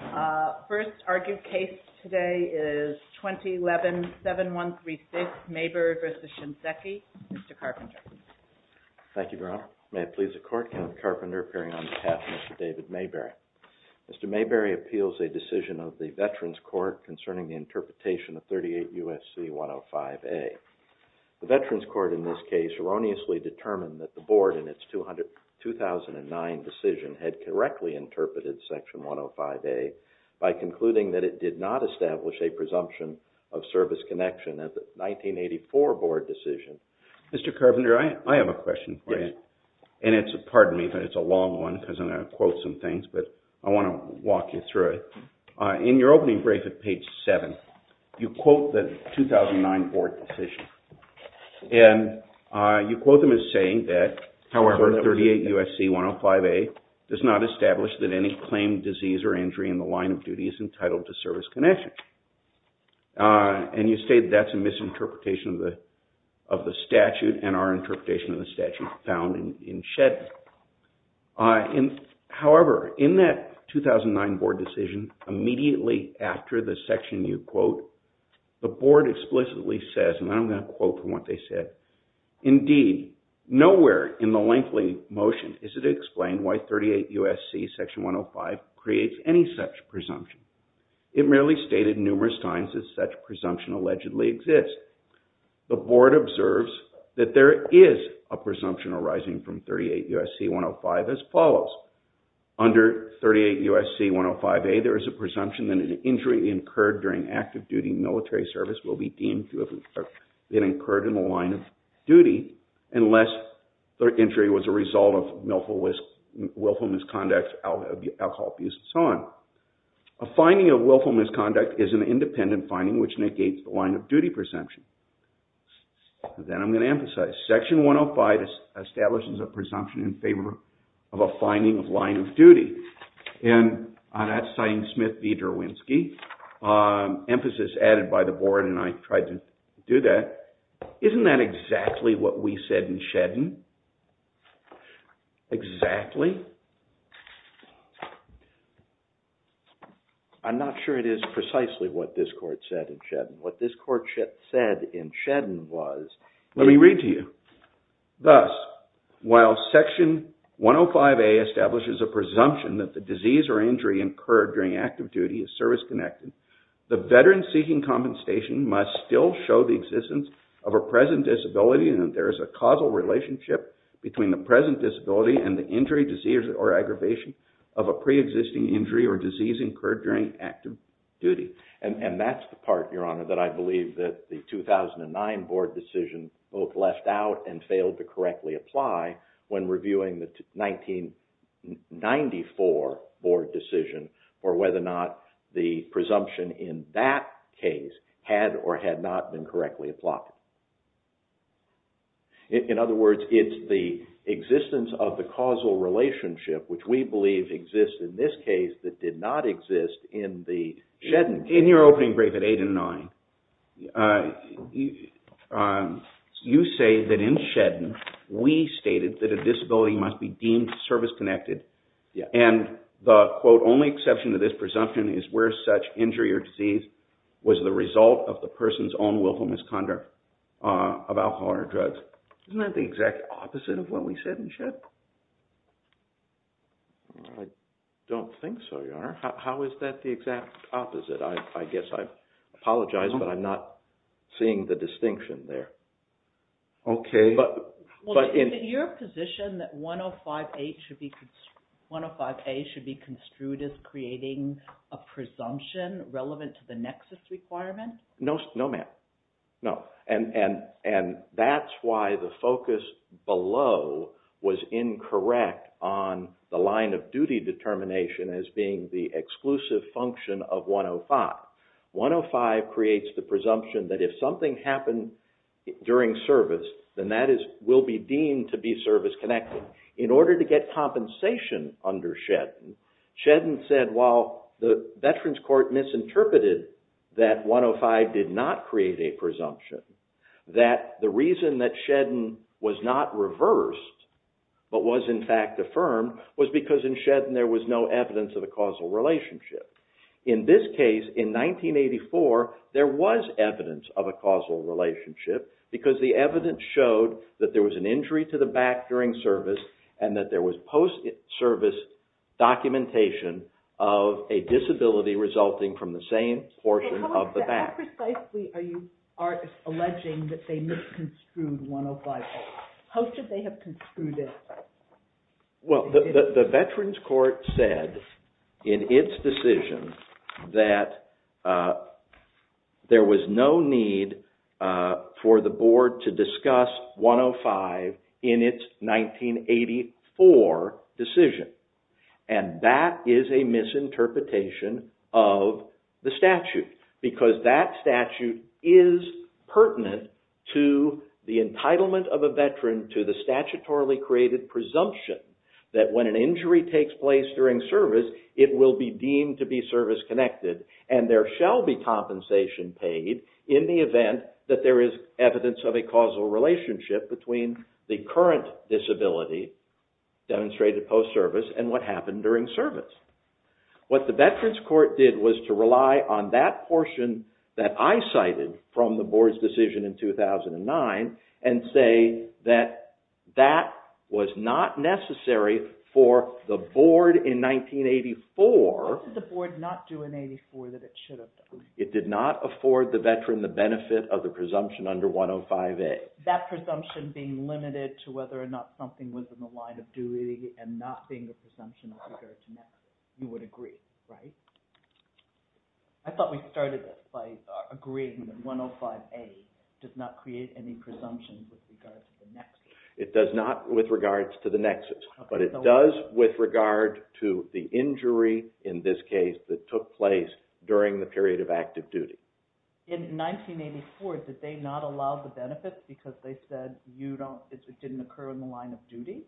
Mr. Carpenter. Thank you, Your Honor. May it please the Court, Kenneth Carpenter appearing on behalf of Mr. David Mayberry. Mr. Mayberry appeals a decision of the Veterans Court concerning the interpretation of 38 U.S.C. 105A. The Veterans Court in this case erroneously determined that the Board, in its 2009 decision, had correctly interpreted Section 105A by concluding that it did not establish a presumption of service connection at the 1984 Board decision. Mr. Carpenter, I have a question for you, and it's a long one because I'm going to quote some things, but I want to walk you through it. In your opening brief at page 7, you quote the 2009 Board decision, and you quote them as saying that, however, 38 U.S.C. 105A does not establish that any claimed disease or injury in the line of duty is entitled to service connection. And you state that's a misinterpretation of the statute and our interpretation of the statute found in Shedden. However, in that 2009 Board decision, immediately after the section you quote, the Board explicitly says, and I'm going to quote from what they said, indeed, nowhere in the lengthy motion is it explained why 38 U.S.C. Section 105 creates any such presumption. It merely stated numerous times that such presumption allegedly exists. The Board observes that there is a presumption arising from 38 U.S.C. 105 as an injury incurred during active duty military service will be deemed to have been incurred in the line of duty unless the injury was a result of willful misconduct, alcohol abuse, and so on. A finding of willful misconduct is an independent finding which negates the line of duty presumption. Then I'm going to emphasize Section 105 establishes a presumption in favor of a finding of line of duty. And that's signed Smith v. Derwinski. Emphasis added by the Board and I tried to do that. Isn't that exactly what we said in Shedden? Exactly? I'm not sure it is precisely what this Court said in Shedden. What this Court said in Shedden was... Let me read to you. Thus, while Section 105A establishes a presumption that the disease or injury incurred during active duty is service-connected, the veteran seeking compensation must still show the existence of a present disability and that there is a causal relationship between the present disability and the injury, disease, or aggravation of a pre-existing injury or disease incurred during active duty. And that's the part, Your Honor, that the 2009 Board decision both left out and failed to correctly apply when reviewing the 1994 Board decision or whether or not the presumption in that case had or had not been correctly applied. In other words, it's the existence of the causal relationship which we believe exists in this case that did not exist in the Shedden case. In your opening brief at 8 and 9, you say that in Shedden, we stated that a disability must be deemed service-connected and the, quote, only exception to this presumption is where such injury or disease was the result of the person's own willful misconduct of alcohol or drugs. Isn't that the exact opposite of what we said in Shedden? I don't think so, Your Honor. How is that the exact opposite? I guess I apologize, but I'm not seeing the distinction there. Okay. But... Is it your position that 105A should be construed as creating a presumption relevant to the nexus requirement? No, ma'am. No. And that's why the focus below was incorrect on the line of duty determination as being the exclusive function of 105. 105 creates the presumption that if something happened during service, then that will be deemed to be service-connected. In order to get compensation under Shedden, Shedden said while the Veterans Court misinterpreted that 105 did not create a presumption, that the reason that Shedden was not reversed but was in fact affirmed was because in Shedden there was no evidence of a causal relationship. In this case, in 1984, there was evidence of a causal relationship because the evidence showed that there was an injury to the back during service and that there was post-service documentation of a disability resulting from the same portion of the back. And how precisely are you alleging that they misconstrued 105A? How should they have construed it? Well, the Veterans Court said in its decision that there was no need for the board to discuss 105 in its 1984 decision. And that is a misinterpretation of the statute because that statute is pertinent to the entitlement of a veteran to the statutorily created presumption that when an injury takes place during service, it will be deemed to be service-connected and there shall be compensation paid in the event that there is evidence of a causal relationship between the current disability demonstrated post-service and what happened during service. What the Veterans Court did was to rely on that portion that I cited from the board's decision in 2009 and say that that was not necessary for the board in 1984. Why did the board not do in 1984 that it should have done? It did not afford the veteran the benefit of the presumption under 105A. That presumption being limited to whether or not something was in the line of duty and not being the presumption with regard to the nexus. You would agree, right? I thought we started this by agreeing that 105A did not create any presumption with regard to the nexus. It does not with regards to the nexus, but it does with regard to the injury in this case that took place during the period of active duty. In 1984, did they not allow the benefits because they said it didn't occur in the line of duty?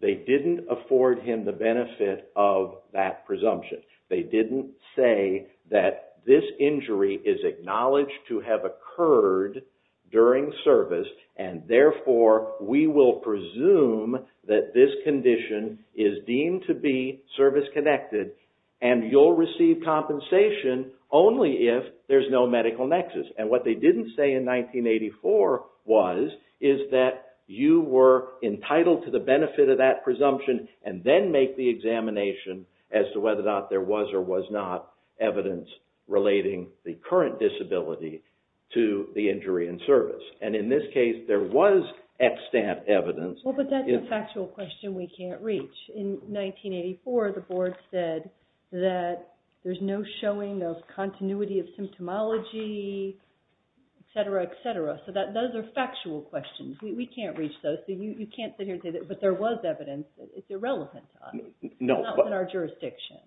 They didn't afford him the benefit of that presumption. They didn't say that this injury is acknowledged to have occurred during service and therefore we will presume that this condition is deemed to be service-connected and you'll receive compensation only if there's no medical nexus. What they didn't say in 1984 was that you were entitled to the benefit of that presumption and then make the examination as to whether or not there was or was not evidence relating the current disability to the injury in service. And in this case, there was extant evidence. Well, but that's a factual question we can't reach. In 1984, the board said that there's no showing of continuity of symptomology, etc., etc. So those are factual questions. We can't reach those. You can't sit here and say, but there was evidence. It's irrelevant to us. No. It's not in our jurisdiction.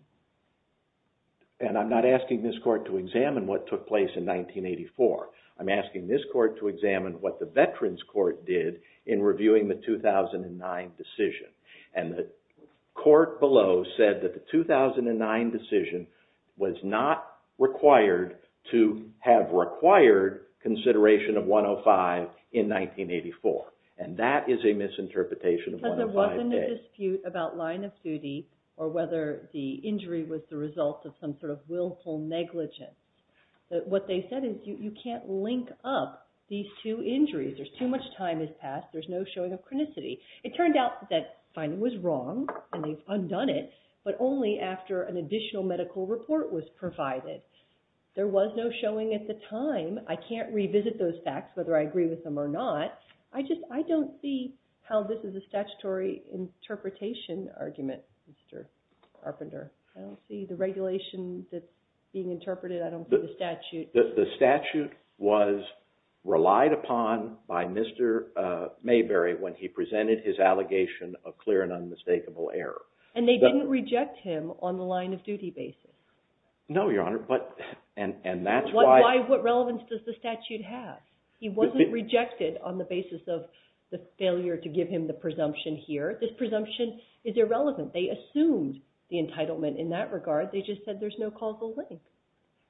And I'm not asking this court to examine what took place in 1984. I'm asking this court to examine what the Veterans Court did in reviewing the 2009 decision. And the court below said that the 2009 decision was not required to have required consideration of 105 in 1984. And that is a misinterpretation of 105A. Because there wasn't a dispute about line of duty or whether the injury was the result of some sort of willful negligence. What they said is you can't link up these two injuries. There's too much time has passed. There's no showing of chronicity. It turned out that finding was wrong, and they've undone it, but only after an additional medical report was provided. There was no showing at the time. I can't revisit those facts, whether I agree with them or not. I don't see how this is a statutory interpretation argument, Mr. Carpenter. I don't see the regulation that's being interpreted. I don't see the statute. The statute was relied upon by Mr. Mayberry when he presented his allegation of clear and unmistakable error. And they didn't reject him on the line of duty basis? No, Your Honor. What relevance does the statute have? He wasn't rejected on the basis of the failure to give him the presumption here. This presumption is irrelevant. They assumed the entitlement in that regard. They just said there's no causal link.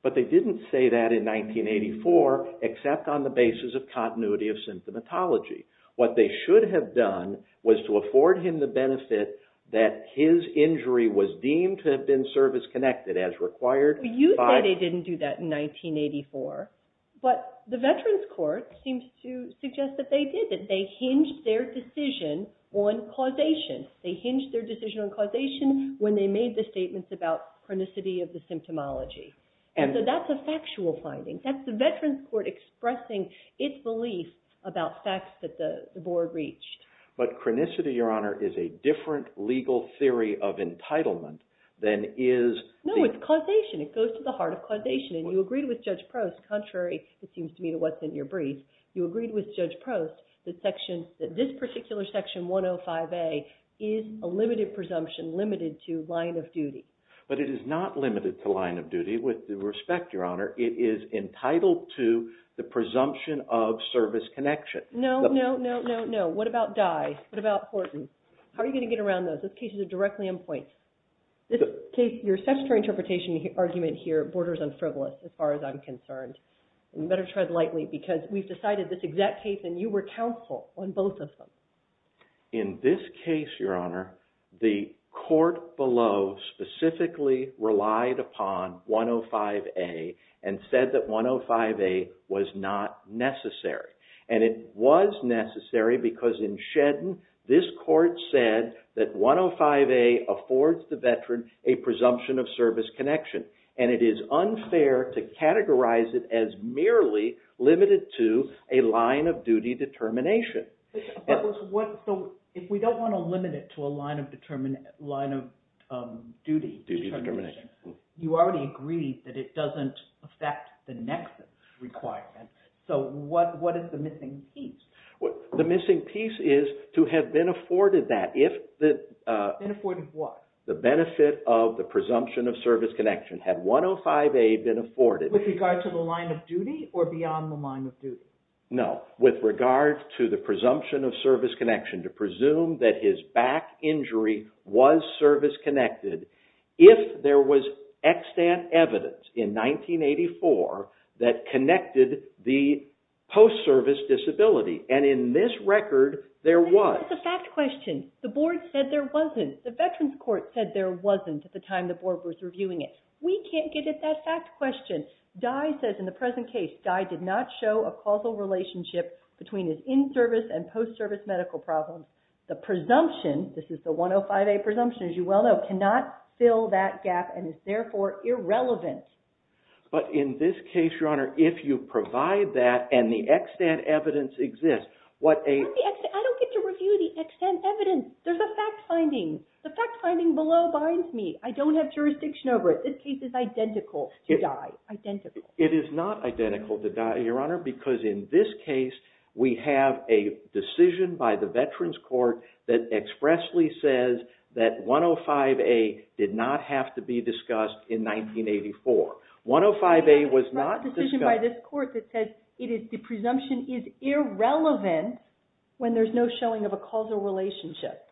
But they didn't say that in 1984, except on the basis of continuity of symptomatology. What they should have done was to afford him the benefit that his injury was deemed to have been service-connected as required. You say they didn't do that in 1984, but the Veterans Court seems to suggest that they did. They hinged their decision on causation. They hinged their decision on causation when they made the statements about chronicity of the symptomatology. And so that's a factual finding. That's the Veterans Court expressing its beliefs about facts that the Board reached. But chronicity, Your Honor, is a different legal theory of entitlement than is the... No, it's causation. It goes to the heart of causation. And you agreed with Judge Prost, contrary, it seems to me, to what's in your brief, you agreed with Judge Prost that this particular Section 105A is a limited presumption, limited to line of duty. But it is not limited to line of duty. With due respect, Your Honor, it is entitled to the presumption of service connection. No, no, no, no, no. What about Dye? What about Horton? How are you going to get around those? Those cases are directly in point. Your statutory interpretation argument here borders on frivolous, as far as I'm concerned. You better tread lightly, because we've decided this exact case, and you were counsel on both of them. In this case, Your Honor, the court below specifically relied upon 105A and said that 105A was not necessary. And it was necessary because in Shedden, this court said that 105A affords the veteran a presumption of service connection. And it is unfair to categorize it as merely limited to a line of duty determination. So if we don't want to limit it to a line of duty determination, you already agreed that it doesn't affect the next requirement. So what is the missing piece? The missing piece is to have been afforded that. Been afforded what? The benefit of the presumption of service connection. Had 105A been afforded... With regard to the line of duty or beyond the line of duty? No, with regard to the presumption of service connection, to presume that his back injury was service-connected if there was extant evidence in 1984 that connected the post-service disability. And in this record, there was. That's a fact question. The board said there wasn't. The Veterans Court said there wasn't at the time the board was reviewing it. We can't get at that fact question. Dye says in the present case, Dye did not show a causal relationship between his in-service and post-service medical problems. The presumption, this is the 105A presumption as you well know, cannot fill that gap and is therefore irrelevant. But in this case, Your Honor, if you provide that and the extant evidence exists, what a... I don't get to review the extant evidence. There's a fact finding. The fact finding below binds me. I don't have jurisdiction over it. This case is identical to Dye. Identical. It is not identical to Dye, Your Honor, because in this case, we have a decision by the Veterans Court that expressly says that 105A did not have to be discussed in 1984. 105A was not discussed... ...by this court that says the presumption is irrelevant when there's no showing of a causal relationship.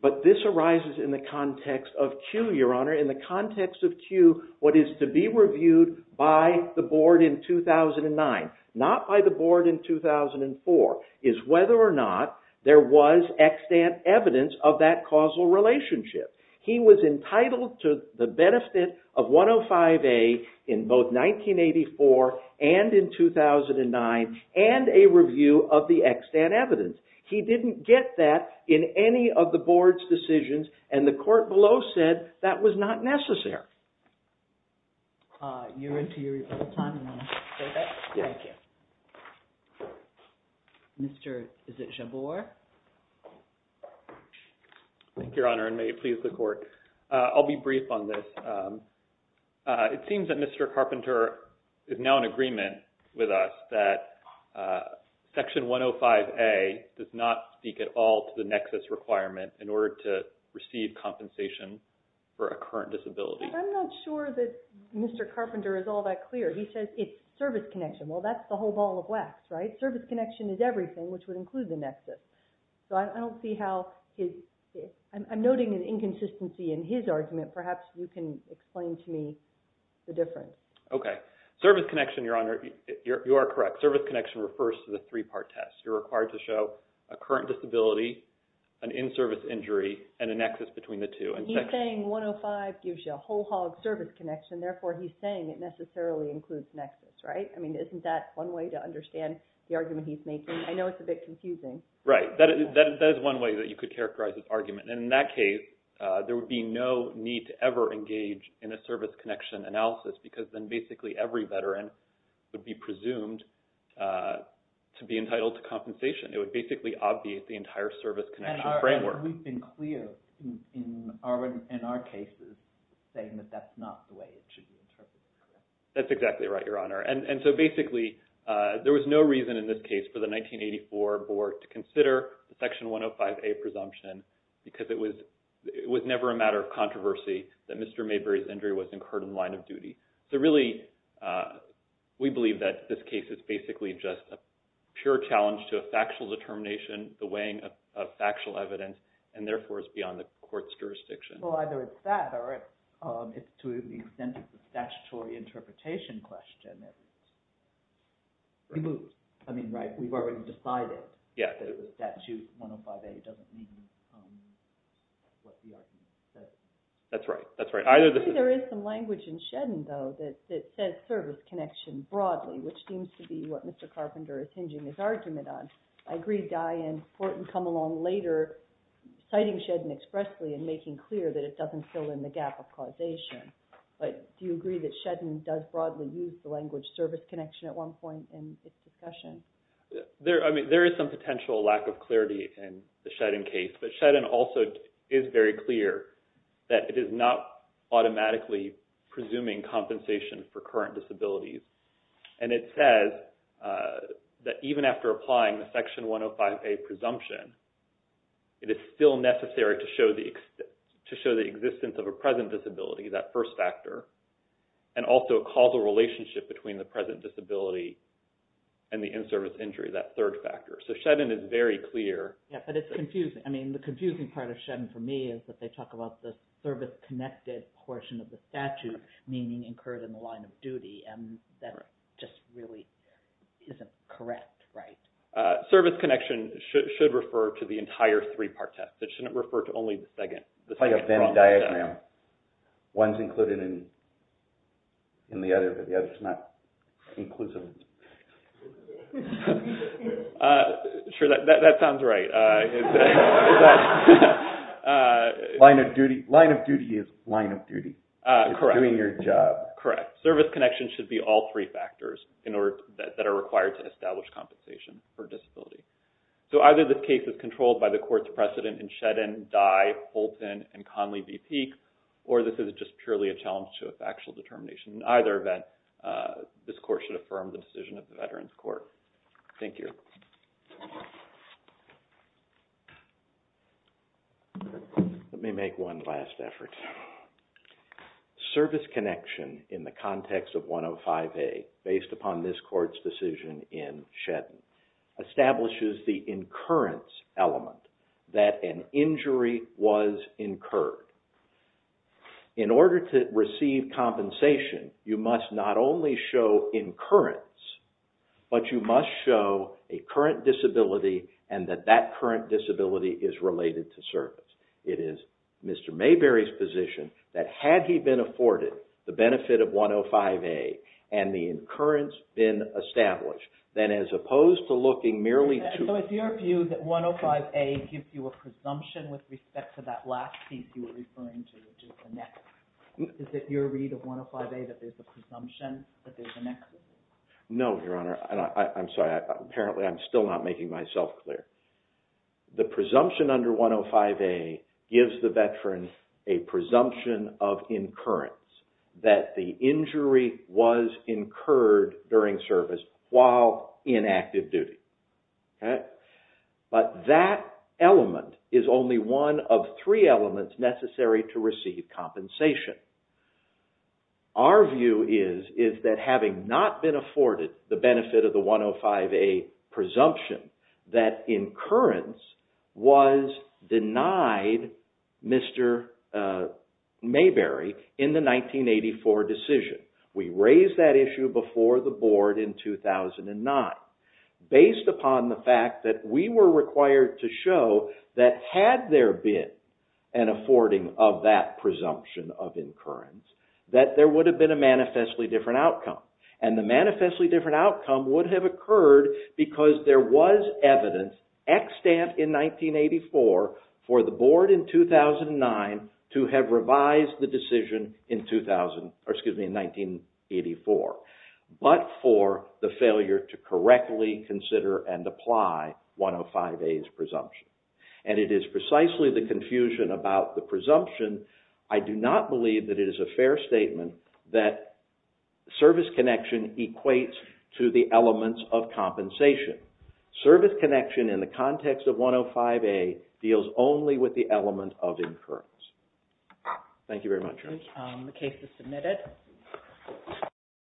But this arises in the context of Q, Your Honor. In the context of Q, what is to be reviewed by the board in 2009, not by the board in 2004, is whether or not there was extant evidence of that causal relationship. He was entitled to the benefit of 105A in both 1984 and in 2009 and a review of the extant evidence. He didn't get that in any of the board's decisions and the court below said that was not necessary. You're into your rebuttal time and want to say that? Yeah. Thank you. Mr. Jabour? Thank you, Your Honor, and may it please the court. I'll be brief on this. It seems that Mr. Carpenter is now in agreement with us that Section 105A does not speak at all to the nexus requirement in order to receive compensation for a current disability. I'm not sure that Mr. Carpenter is all that clear. He says it's service connection. Well, that's the whole ball of wax, right? Service connection is everything, which would include the nexus. So I don't see how his... I'm noting an inconsistency in his argument. Perhaps you can explain to me the difference. Okay. Service connection, Your Honor, you are correct. Service connection refers to the three-part test. You're required to show a current disability, an in-service injury, and a nexus between the two. He's saying 105 gives you a whole hog service connection. Therefore, he's saying it necessarily includes nexus, right? I mean, isn't that one way to understand the argument he's making? I know it's a bit confusing. Right. That is one way that you could characterize his argument. In that case, there would be no need to ever engage in a service connection analysis because then basically every veteran would be presumed to be entitled to compensation. It would basically obviate the entire service connection framework. And we've been clear in our cases saying that that's not the way it should be interpreted. That's exactly right, Your Honor. And so basically there was no reason in this case for the 1984 board to consider the Section 105A presumption because it was never a matter of controversy that Mr. Mayberry's injury was incurred in the line of duty. So really, we believe that this case is basically just a pure challenge to a factual determination, the weighing of factual evidence, and therefore is beyond the court's jurisdiction. Well, either it's that or it's to the extent it's a statutory interpretation question. I mean, right? We've already decided that the statute 105A doesn't meet what the argument says. That's right. I agree there is some language in Shedden, though, that says service connection broadly, which seems to be what Mr. Carpenter is hinging his argument on. I agree Dian Fortin come along later citing Shedden expressly and making clear that it doesn't fill in the gap of causation. But do you agree that Shedden does broadly use the language service connection at one point in its discussion? I mean, there is some potential lack of clarity in the Shedden case, but Shedden also is very clear that it is not automatically presuming compensation for current disabilities. And it says that even after applying the Section 105A presumption, it is still necessary to show the existence of a present disability, that first factor, and also a causal relationship between the present disability and the in-service injury, that third factor. So Shedden is very clear. Yeah, but it's confusing. I mean, the confusing part of Shedden for me is that they talk about the service connected portion of the statute, meaning incurred in the line of duty, and that just really isn't correct, right? Service connection should refer to the entire three-part test. It shouldn't refer to only the second. It's like a Venn diagram. One is included in the other, but the other is not inclusive. Sure, that sounds right. Line of duty is line of duty. Correct. It's doing your job. Correct. Service connection should be all three factors that are required to establish compensation for disability. So either this case is controlled by the court's precedent in Shedden, Dye, Holton, and Conley v. Peake, or this is just purely a challenge to a factual determination. In either event, this court should affirm the decision of the Veterans Court. Thank you. Let me make one last effort. Service connection in the context of 105A, based upon this court's decision in Shedden, establishes the incurrence element, that an injury was incurred. In order to receive compensation, you must not only show incurrence, but you must show a current disability and that that current disability is related to service. It is Mr. Mayberry's position that had he been afforded the benefit of 105A and the incurrence been established, then as opposed to looking merely to... Is it your read of 105A that there's a presumption that there's an... No, Your Honor. I'm sorry. Apparently, I'm still not making myself clear. The presumption under 105A gives the Veteran a presumption of incurrence, that the injury was incurred during service while in active duty. But that element is only one of three elements necessary to receive compensation. Our view is that having not been afforded the benefit of the 105A presumption, that incurrence was denied Mr. Mayberry in the 1984 decision. We raised that issue before the Board in 2009. Based upon the fact that we were required to show that had there been an affording of that presumption of incurrence, that there would have been a manifestly different outcome. And the manifestly different outcome would have occurred because there was evidence extant in 1984 for the Board in 2009 to have revised the decision in 2000... but for the failure to correctly consider and apply 105A's presumption. And it is precisely the confusion about the presumption. I do not believe that it is a fair statement that service connection equates to the elements of compensation. Service connection in the context of 105A deals only with the element of incurrence. Thank you very much, Your Honor. The case is submitted.